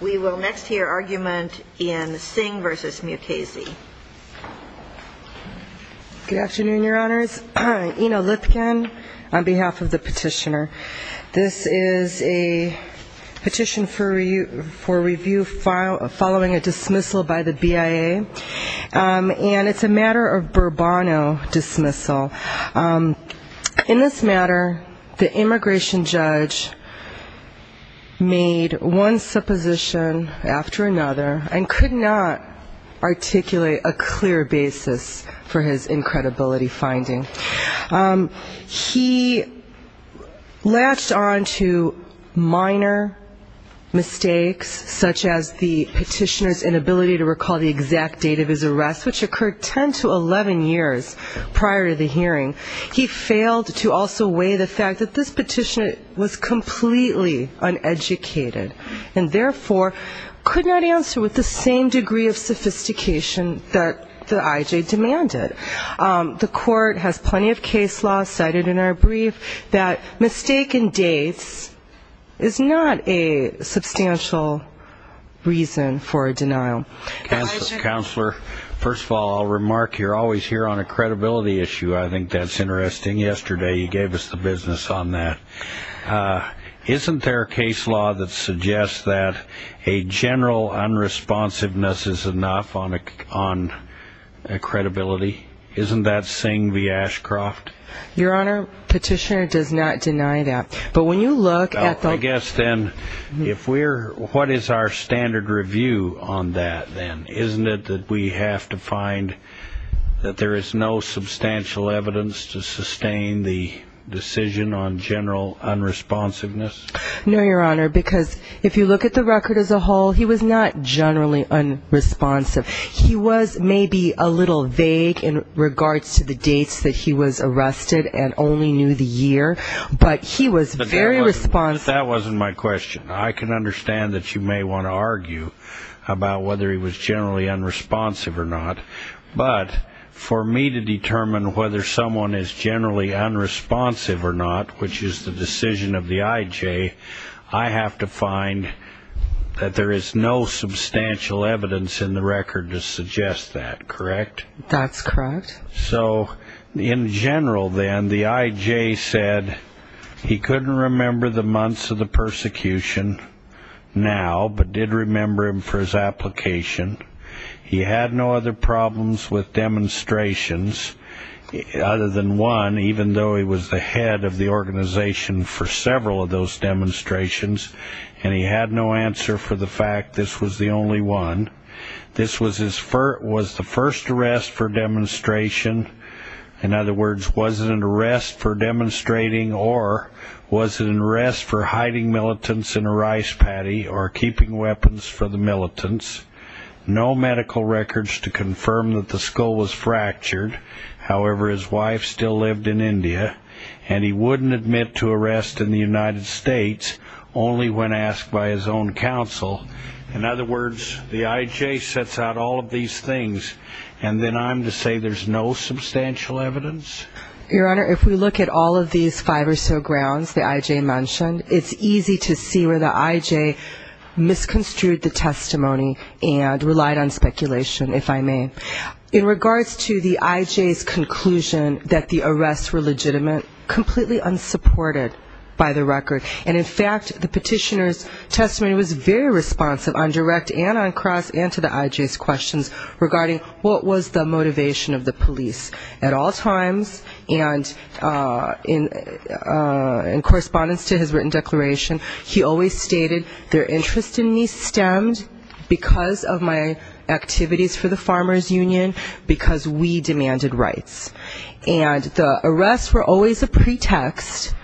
We will next hear argument in Singh v. Mukasey. Good afternoon, Your Honors. Ina Lipkin on behalf of the petitioner. This is a petition for review following a dismissal by the BIA, and it's a matter of Burbano dismissal. In this matter, the immigration judge made one supposition after another, and could not articulate a clear basis for his incredibility finding. He latched on to minor mistakes, such as the petitioner's inability to recall the exact date of his hearing. He failed to also weigh the fact that this petitioner was completely uneducated, and therefore could not answer with the same degree of sophistication that the IJ demanded. The court has plenty of case law cited in our brief that mistaken dates is not a general unresponsiveness is enough on a credibility. Isn't that Singh v. Ashcroft? Your Honor, the petitioner does not deny that. I guess then, what is our standard review on that then? Isn't it that we have to find that there is no substantial evidence to sustain the decision on general unresponsiveness? No, Your Honor, because if you look at the record as a whole, he was not generally unresponsive. He was maybe a little vague in regards to the dates that he was arrested and only knew the year, but he was very responsive. That wasn't my question. I can understand that you may want to argue about whether he was generally unresponsive or not, but for me to determine whether someone is generally unresponsive or not, which is the decision of the IJ, I have to find that there is no substantial evidence in the record to suggest that, correct? That's correct. So in general then, the IJ said he couldn't remember the months of the persecution now, but did remember them for his application. He had no other problems with demonstrations other than one, even though he was the head of the organization for several of those demonstrations, and he had no answer for the one. This was the first arrest for demonstration. In other words, was it an arrest for demonstrating or was it an arrest for hiding militants in a rice patty or keeping weapons for the militants? No medical records to confirm that the skull was fractured. However, his wife still lived in India, and he wouldn't admit to arrest in the United States, only when asked by his own counsel. In other words, was it an arrest for demonstration? The IJ sets out all of these things, and then I'm to say there's no substantial evidence? Your Honor, if we look at all of these five or so grounds the IJ mentioned, it's easy to see where the IJ misconstrued the testimony and relied on speculation, if I may. In regards to the IJ's conclusion that the arrests were legitimate, completely unsupported by the record. And in fact, the IJ's questions regarding what was the motivation of the police at all times, and in correspondence to his written declaration, he always stated, their interest in me stemmed because of my activities for the Farmers Union, because we demanded rights. And the arrests were always a pretext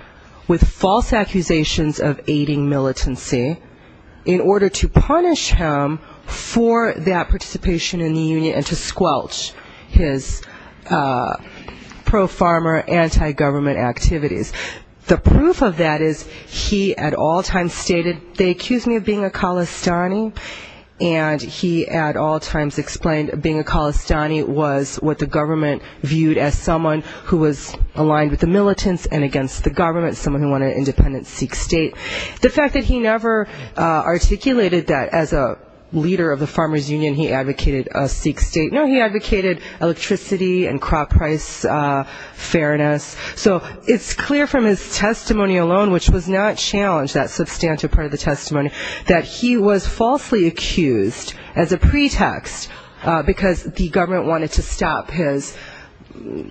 with false accusations of aiding militancy in order to punish him for that participation in the union and to squelch his pro-farmer, anti-government activities. The proof of that is he at all times stated, they accused me of being a Khalistani, and he at all times explained being a Khalistani was what the government viewed as someone who was aligned with the militants and against the government, someone who wanted independence, Sikh state. The fact that he never articulated that as a leader of the Farmers Union, he advocated a Sikh state. No, he advocated electricity and crop price fairness. So it's clear from his testimony alone, which was not challenged, that substantive part of the testimony, that he was falsely accused as a pretext, because the government wanted to stop his,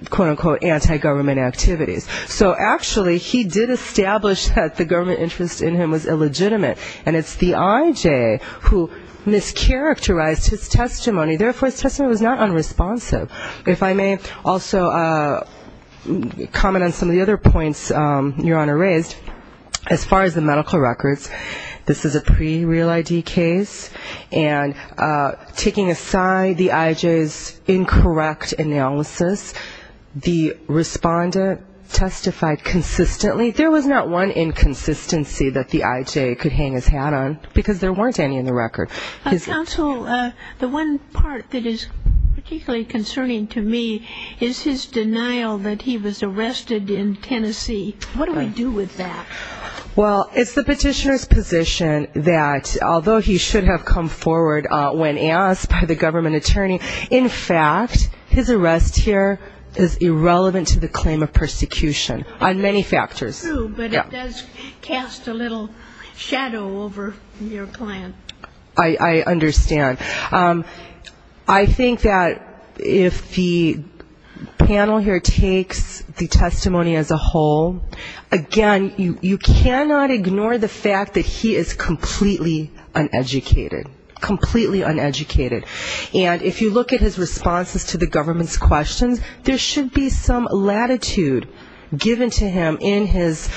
quote, unquote, anti-government activities. So actually, he did establish that the government interest in him was illegitimate. And it's the IJ who mischaracterized his testimony. Therefore, his testimony was not unresponsive. If I may also comment on some of the other points Your Honor raised, as far as the medical records, this is a pre-real ID case, and there was not one inconsistency that the IJ could hang his hat on, because there weren't any in the record. Counsel, the one part that is particularly concerning to me is his denial that he was arrested in Tennessee. What do we do with that? Well, it's the petitioner's position that although he should have come forward when asked by the government attorney, in fact, his arrest here is not unconstitutional. But it does cast a little shadow over your client. I understand. I think that if the panel here takes the testimony as a whole, again, you cannot ignore the fact that he is completely uneducated, completely uneducated. And if you look at his responses to the government's questions, there should be some latitude given to him in his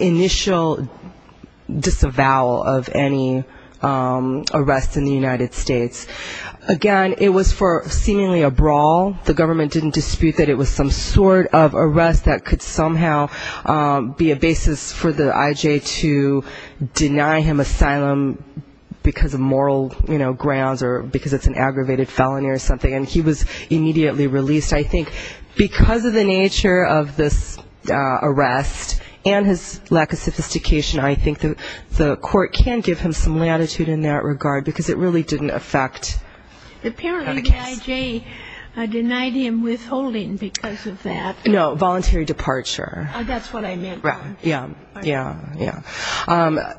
initial disavowal of any arrests in the United States. Again, it was for seemingly a brawl. The government didn't dispute that it was some sort of arrest that could somehow be a basis for the IJ to deny him asylum because of moral grounds or because it's an aggravated felony or something, and he was not a criminal. And given his lack of sophistication, I think the court can give him some latitude in that regard, because it really didn't affect the case. Apparently the IJ denied him withholding because of that. No, voluntary departure. That's what I meant. Yeah, yeah, yeah.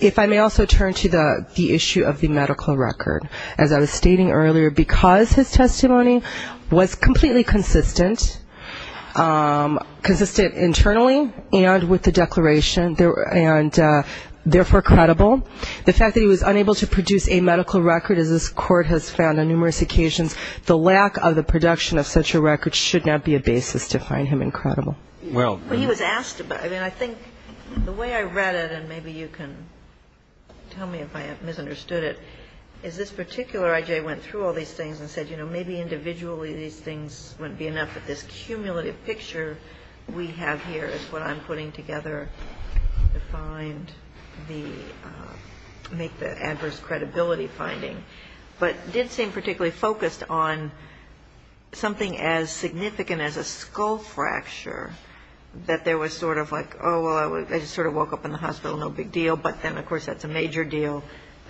If I may also turn to the issue of the medical record. As I was stating earlier, because his testimony was completely inconsistent, consistent internally and with the declaration, and therefore credible, the fact that he was unable to produce a medical record, as this Court has found on numerous occasions, the lack of the production of such a record should not be a basis to find him incredible. Well, he was asked about it. I mean, I think the way I read it, and maybe you can tell me if I misunderstood it, is this particular IJ went through all these things and said, you know, maybe individually these things wouldn't be enough, but this cumulative picture we have here is what I'm putting together to find the ‑‑ make the adverse credibility finding, but did seem particularly focused on something as significant as a skull fracture, that there was sort of like, oh, well, I just sort of woke up in the hospital, no big deal, but then, of course, that's a major deal,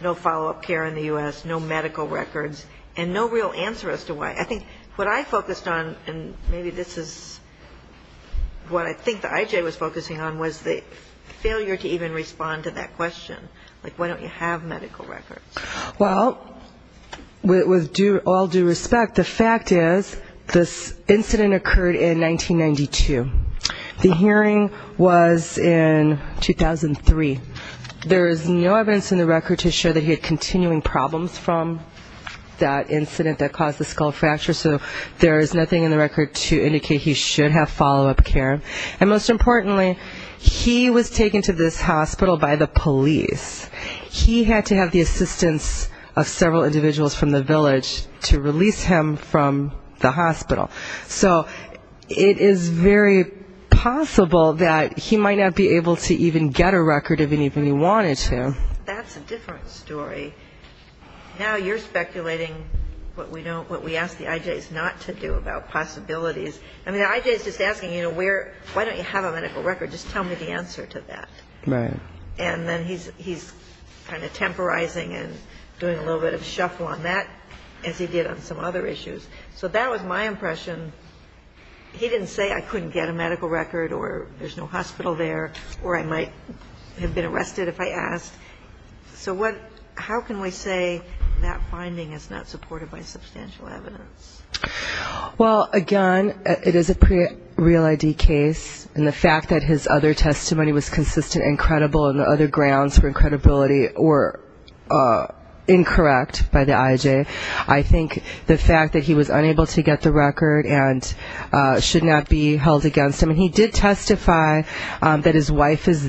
no follow‑up care in the U.S., no medical records, and no real answer as to why. I think what I focused on, and maybe this is what I think the IJ was focusing on, was the failure to even respond to that question. Like, why don't you have medical records? Well, with all due respect, the fact is this incident occurred in 1992. The hearing was in 2003. There is no evidence in the record to show that he had continuing problems from that incident that caused the skull fracture, so there is nothing in the record to indicate he should have follow‑up care. And most importantly, he was taken to this hospital by the police. He had to have the assistance of several individuals from the village to release him from the hospital. So it is very possible that he might not be able to even get a record of anything he wanted to. That's a different story. Now you're speculating what we ask the IJs not to do about possibilities. I mean, the IJ is just asking, you know, why don't you have a medical record? Just tell me the answer to that. And then he's kind of temporizing and doing a little bit of shuffle on that, as he did on some other issues. So that was my impression. He didn't say I couldn't get a medical record or there's no hospital there, or I might have been arrested if I asked. So how can we say that finding is not supported by substantial evidence? Well, again, it is a pre‑real ID case, and the fact that his other testimony was consistent and credible and the other grounds for credibility were incorrect by the IJ. I think the fact that he was unable to get the record and should not be held against him, and he did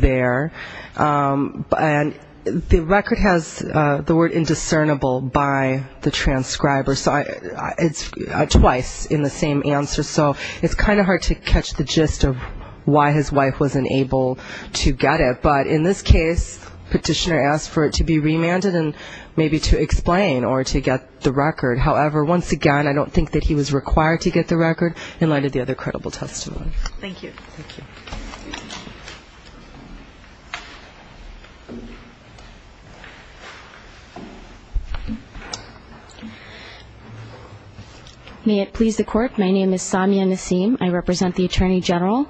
there, and the record has the word indiscernible by the transcriber. So it's twice in the same answer. So it's kind of hard to catch the gist of why his wife wasn't able to get it. But in this case, petitioner asked for it to be remanded and maybe to explain or to get the record. However, once again, I don't think that he was required to get the record in light of the other credible testimony. Thank you. May it please the court, my name is Samia Nassim, I represent the Attorney General.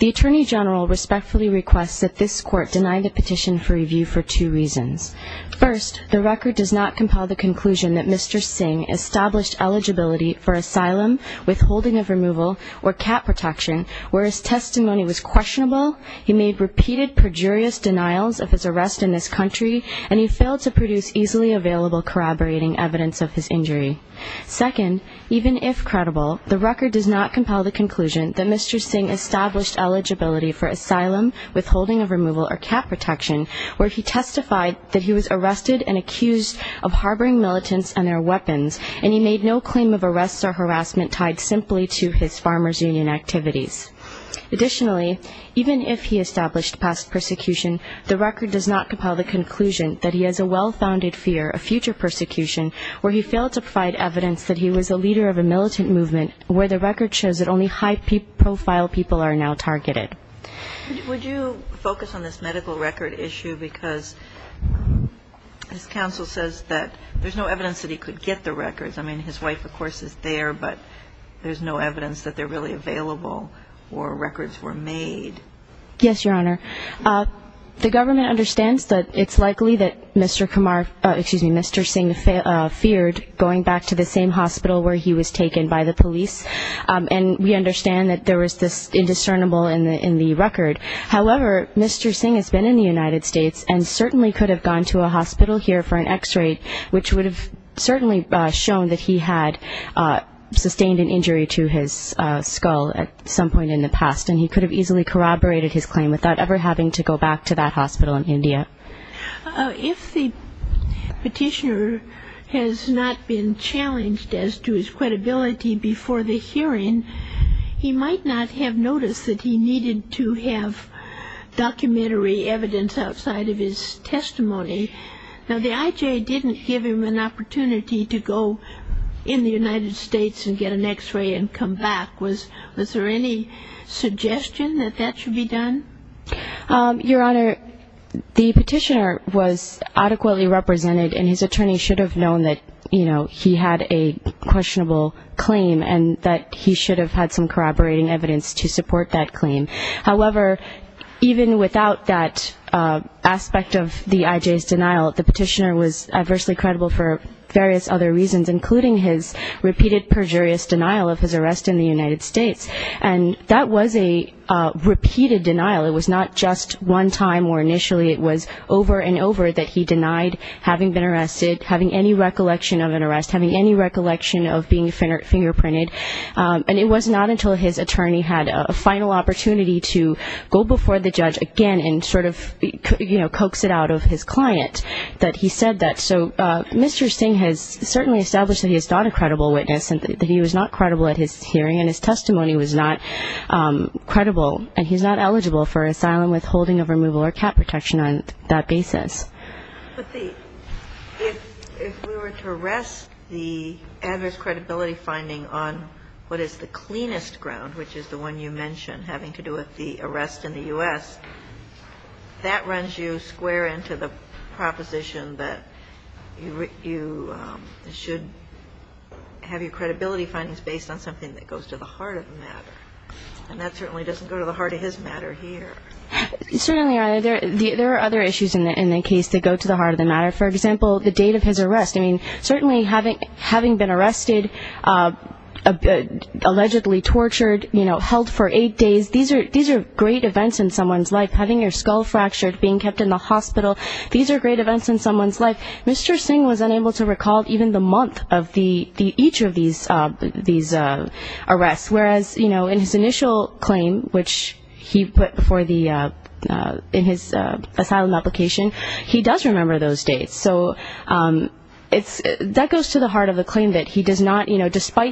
The Attorney General respectfully requests that this court deny the petition for review for two reasons. First, the record does not compel the conclusion that Mr. Singh established eligibility for asylum, withholding of removal, or cat protection, where his testimony was questionable, he made repeated perjurious denials of his arrest in this country, and he failed to produce easily available corroborating evidence of his injury. Second, even if credible, the record does not compel the conclusion that Mr. Singh established eligibility for asylum, withholding of removal, or cat protection, where he testified that he was arrested and accused of harboring militants and their weapons, and he made no claim of arrests or harassment tied simply to his farmer's union activities. Additionally, even if he established past persecution, the record does not compel the conclusion that he has a well-founded fear of future persecution, where he failed to provide evidence that he was a leader of a militant movement, where the record shows that only high-profile people are now targeted. Would you focus on this medical record issue, because his counsel says that there's no evidence that he could get the record. I mean, his wife, of course, is there, but there's no evidence that they're really available or records were made. Yes, Your Honor. The government understands that it's likely that Mr. Kumar, excuse me, Mr. Singh feared going back to the same hospital where he was taken by the police, and we understand that there was this indiscernible in the record. However, Mr. Singh has been in the United States and certainly could have gone to a hospital here for an X-ray, which would have certainly shown that he had sustained an injury to his skull at some point in the past, and he could have easily corroborated his claim without ever having to go back to that hospital in India. If the petitioner has not been challenged as to his credibility before the hearing, he might not have noticed that he needed to have documentary evidence outside of his testimony. Now, the I.J. didn't give him an opportunity to go to the hospital, but he did come back in the United States and get an X-ray and come back. Was there any suggestion that that should be done? Your Honor, the petitioner was adequately represented, and his attorney should have known that, you know, he had a questionable claim and that he should have had some corroborating evidence to support that claim. However, even without that aspect of the I.J.'s denial, the petitioner was adversely credible for various other reasons, including his repeated perjurious denial of his arrest in the United States. And that was a repeated denial. It was not just one time or initially. It was over and over that he denied having been arrested, having any recollection of an arrest, having any recollection of being fingerprinted. And it was not until his attorney had a final opportunity to go before the judge again and sort of, you know, coax it out of his client. That he said that. So Mr. Singh has certainly established that he is not a credible witness and that he was not credible at his hearing. And his testimony was not credible. And he's not eligible for asylum, withholding of removal or cap protection on that basis. But if we were to arrest the adverse credibility finding on what is the cleanest ground, which is the one you mentioned, having to do with the arrest in the U.S., that runs you square into the proposition that you should have your credibility findings based on something that goes to the heart of the matter. And that certainly doesn't go to the heart of his matter here. Certainly, Your Honor. There are other issues in the case that go to the heart of the matter. For example, the date of his arrest. I mean, certainly having been arrested, allegedly tortured, you know, held for eight days, these are, these are things that are great events in someone's life. Having your skull fractured, being kept in the hospital, these are great events in someone's life. Mr. Singh was unable to recall even the month of each of these arrests. Whereas, you know, in his initial claim, which he put for the, in his asylum application, he does remember those dates. So it's, that goes to the heart of the claim that he does not, you know, recall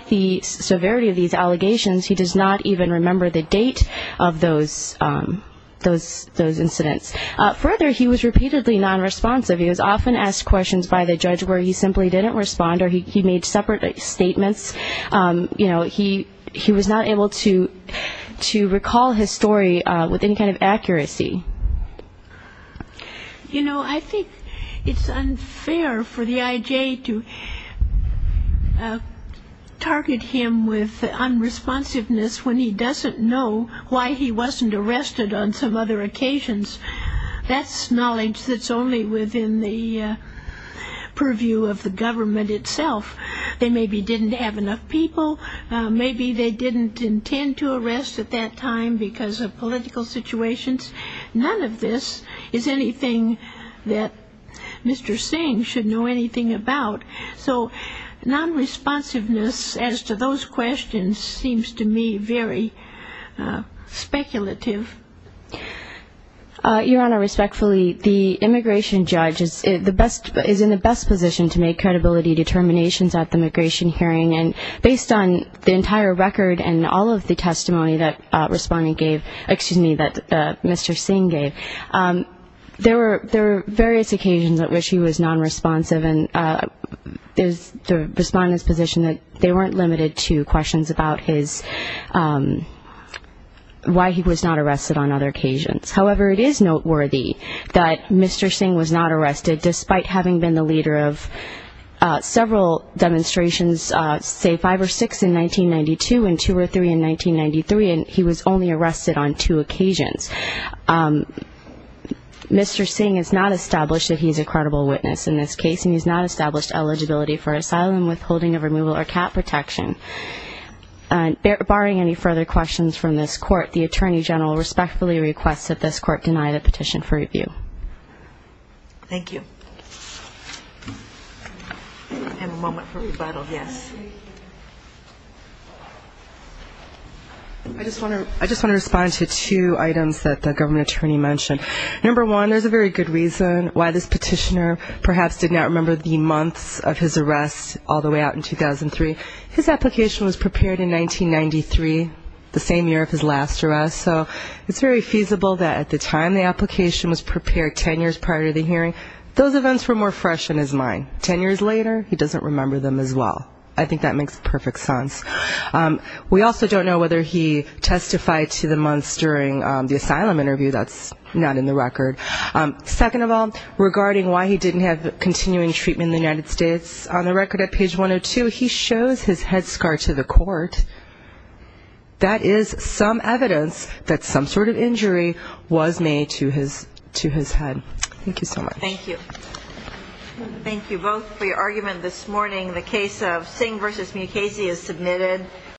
those incidents. Further, he was repeatedly nonresponsive. He was often asked questions by the judge where he simply didn't respond or he made separate statements. You know, he was not able to recall his story with any kind of accuracy. You know, I think it's unfair for the I.J. to target him with unresponsiveness when he doesn't know why he was arrested. He wasn't arrested on some other occasions. That's knowledge that's only within the purview of the government itself. They maybe didn't have enough people. Maybe they didn't intend to arrest at that time because of political situations. None of this is anything that Mr. Singh should know anything about. So nonresponsiveness as to those questions seems to me very speculative. Your Honor, respectfully, the immigration judge is the best, is in the best position to make credibility determinations at the immigration hearing. And based on the entire record and all of the testimony that respondent gave, excuse me, that Mr. Singh gave, there were various occasions at which he was nonresponsive. And there's the respondent's position that they weren't limited to questions about his, why he was not arrested on other occasions. However, it is noteworthy that Mr. Singh was not arrested, despite having been the leader of several demonstrations, say five or six in 1992, and two or three in 1993, and he was only arrested on two occasions. Mr. Singh has not established that he's a credible witness in this case, and he's not responsible for the conviction. Barring any further questions from this court, the attorney general respectfully requests that this court deny the petition for review. Thank you. I just want to respond to two items that the government attorney mentioned. Number one, there's a very good reason why this petitioner perhaps did not remember the months of his arrest all the way out in 2003. His attorney general's response to that was, the application was prepared in 1993, the same year of his last arrest, so it's very feasible that at the time the application was prepared ten years prior to the hearing, those events were more fresh in his mind. Ten years later, he doesn't remember them as well. I think that makes perfect sense. We also don't know whether he testified to the months during the asylum interview. That's not in the record. Second of all, regarding why he didn't have continuing treatment in the United States, on the basis that he had a head scar to the court, that is some evidence that some sort of injury was made to his head. Thank you so much. Thank you both for your argument this morning. The case of Singh v. Mukasey is submitted.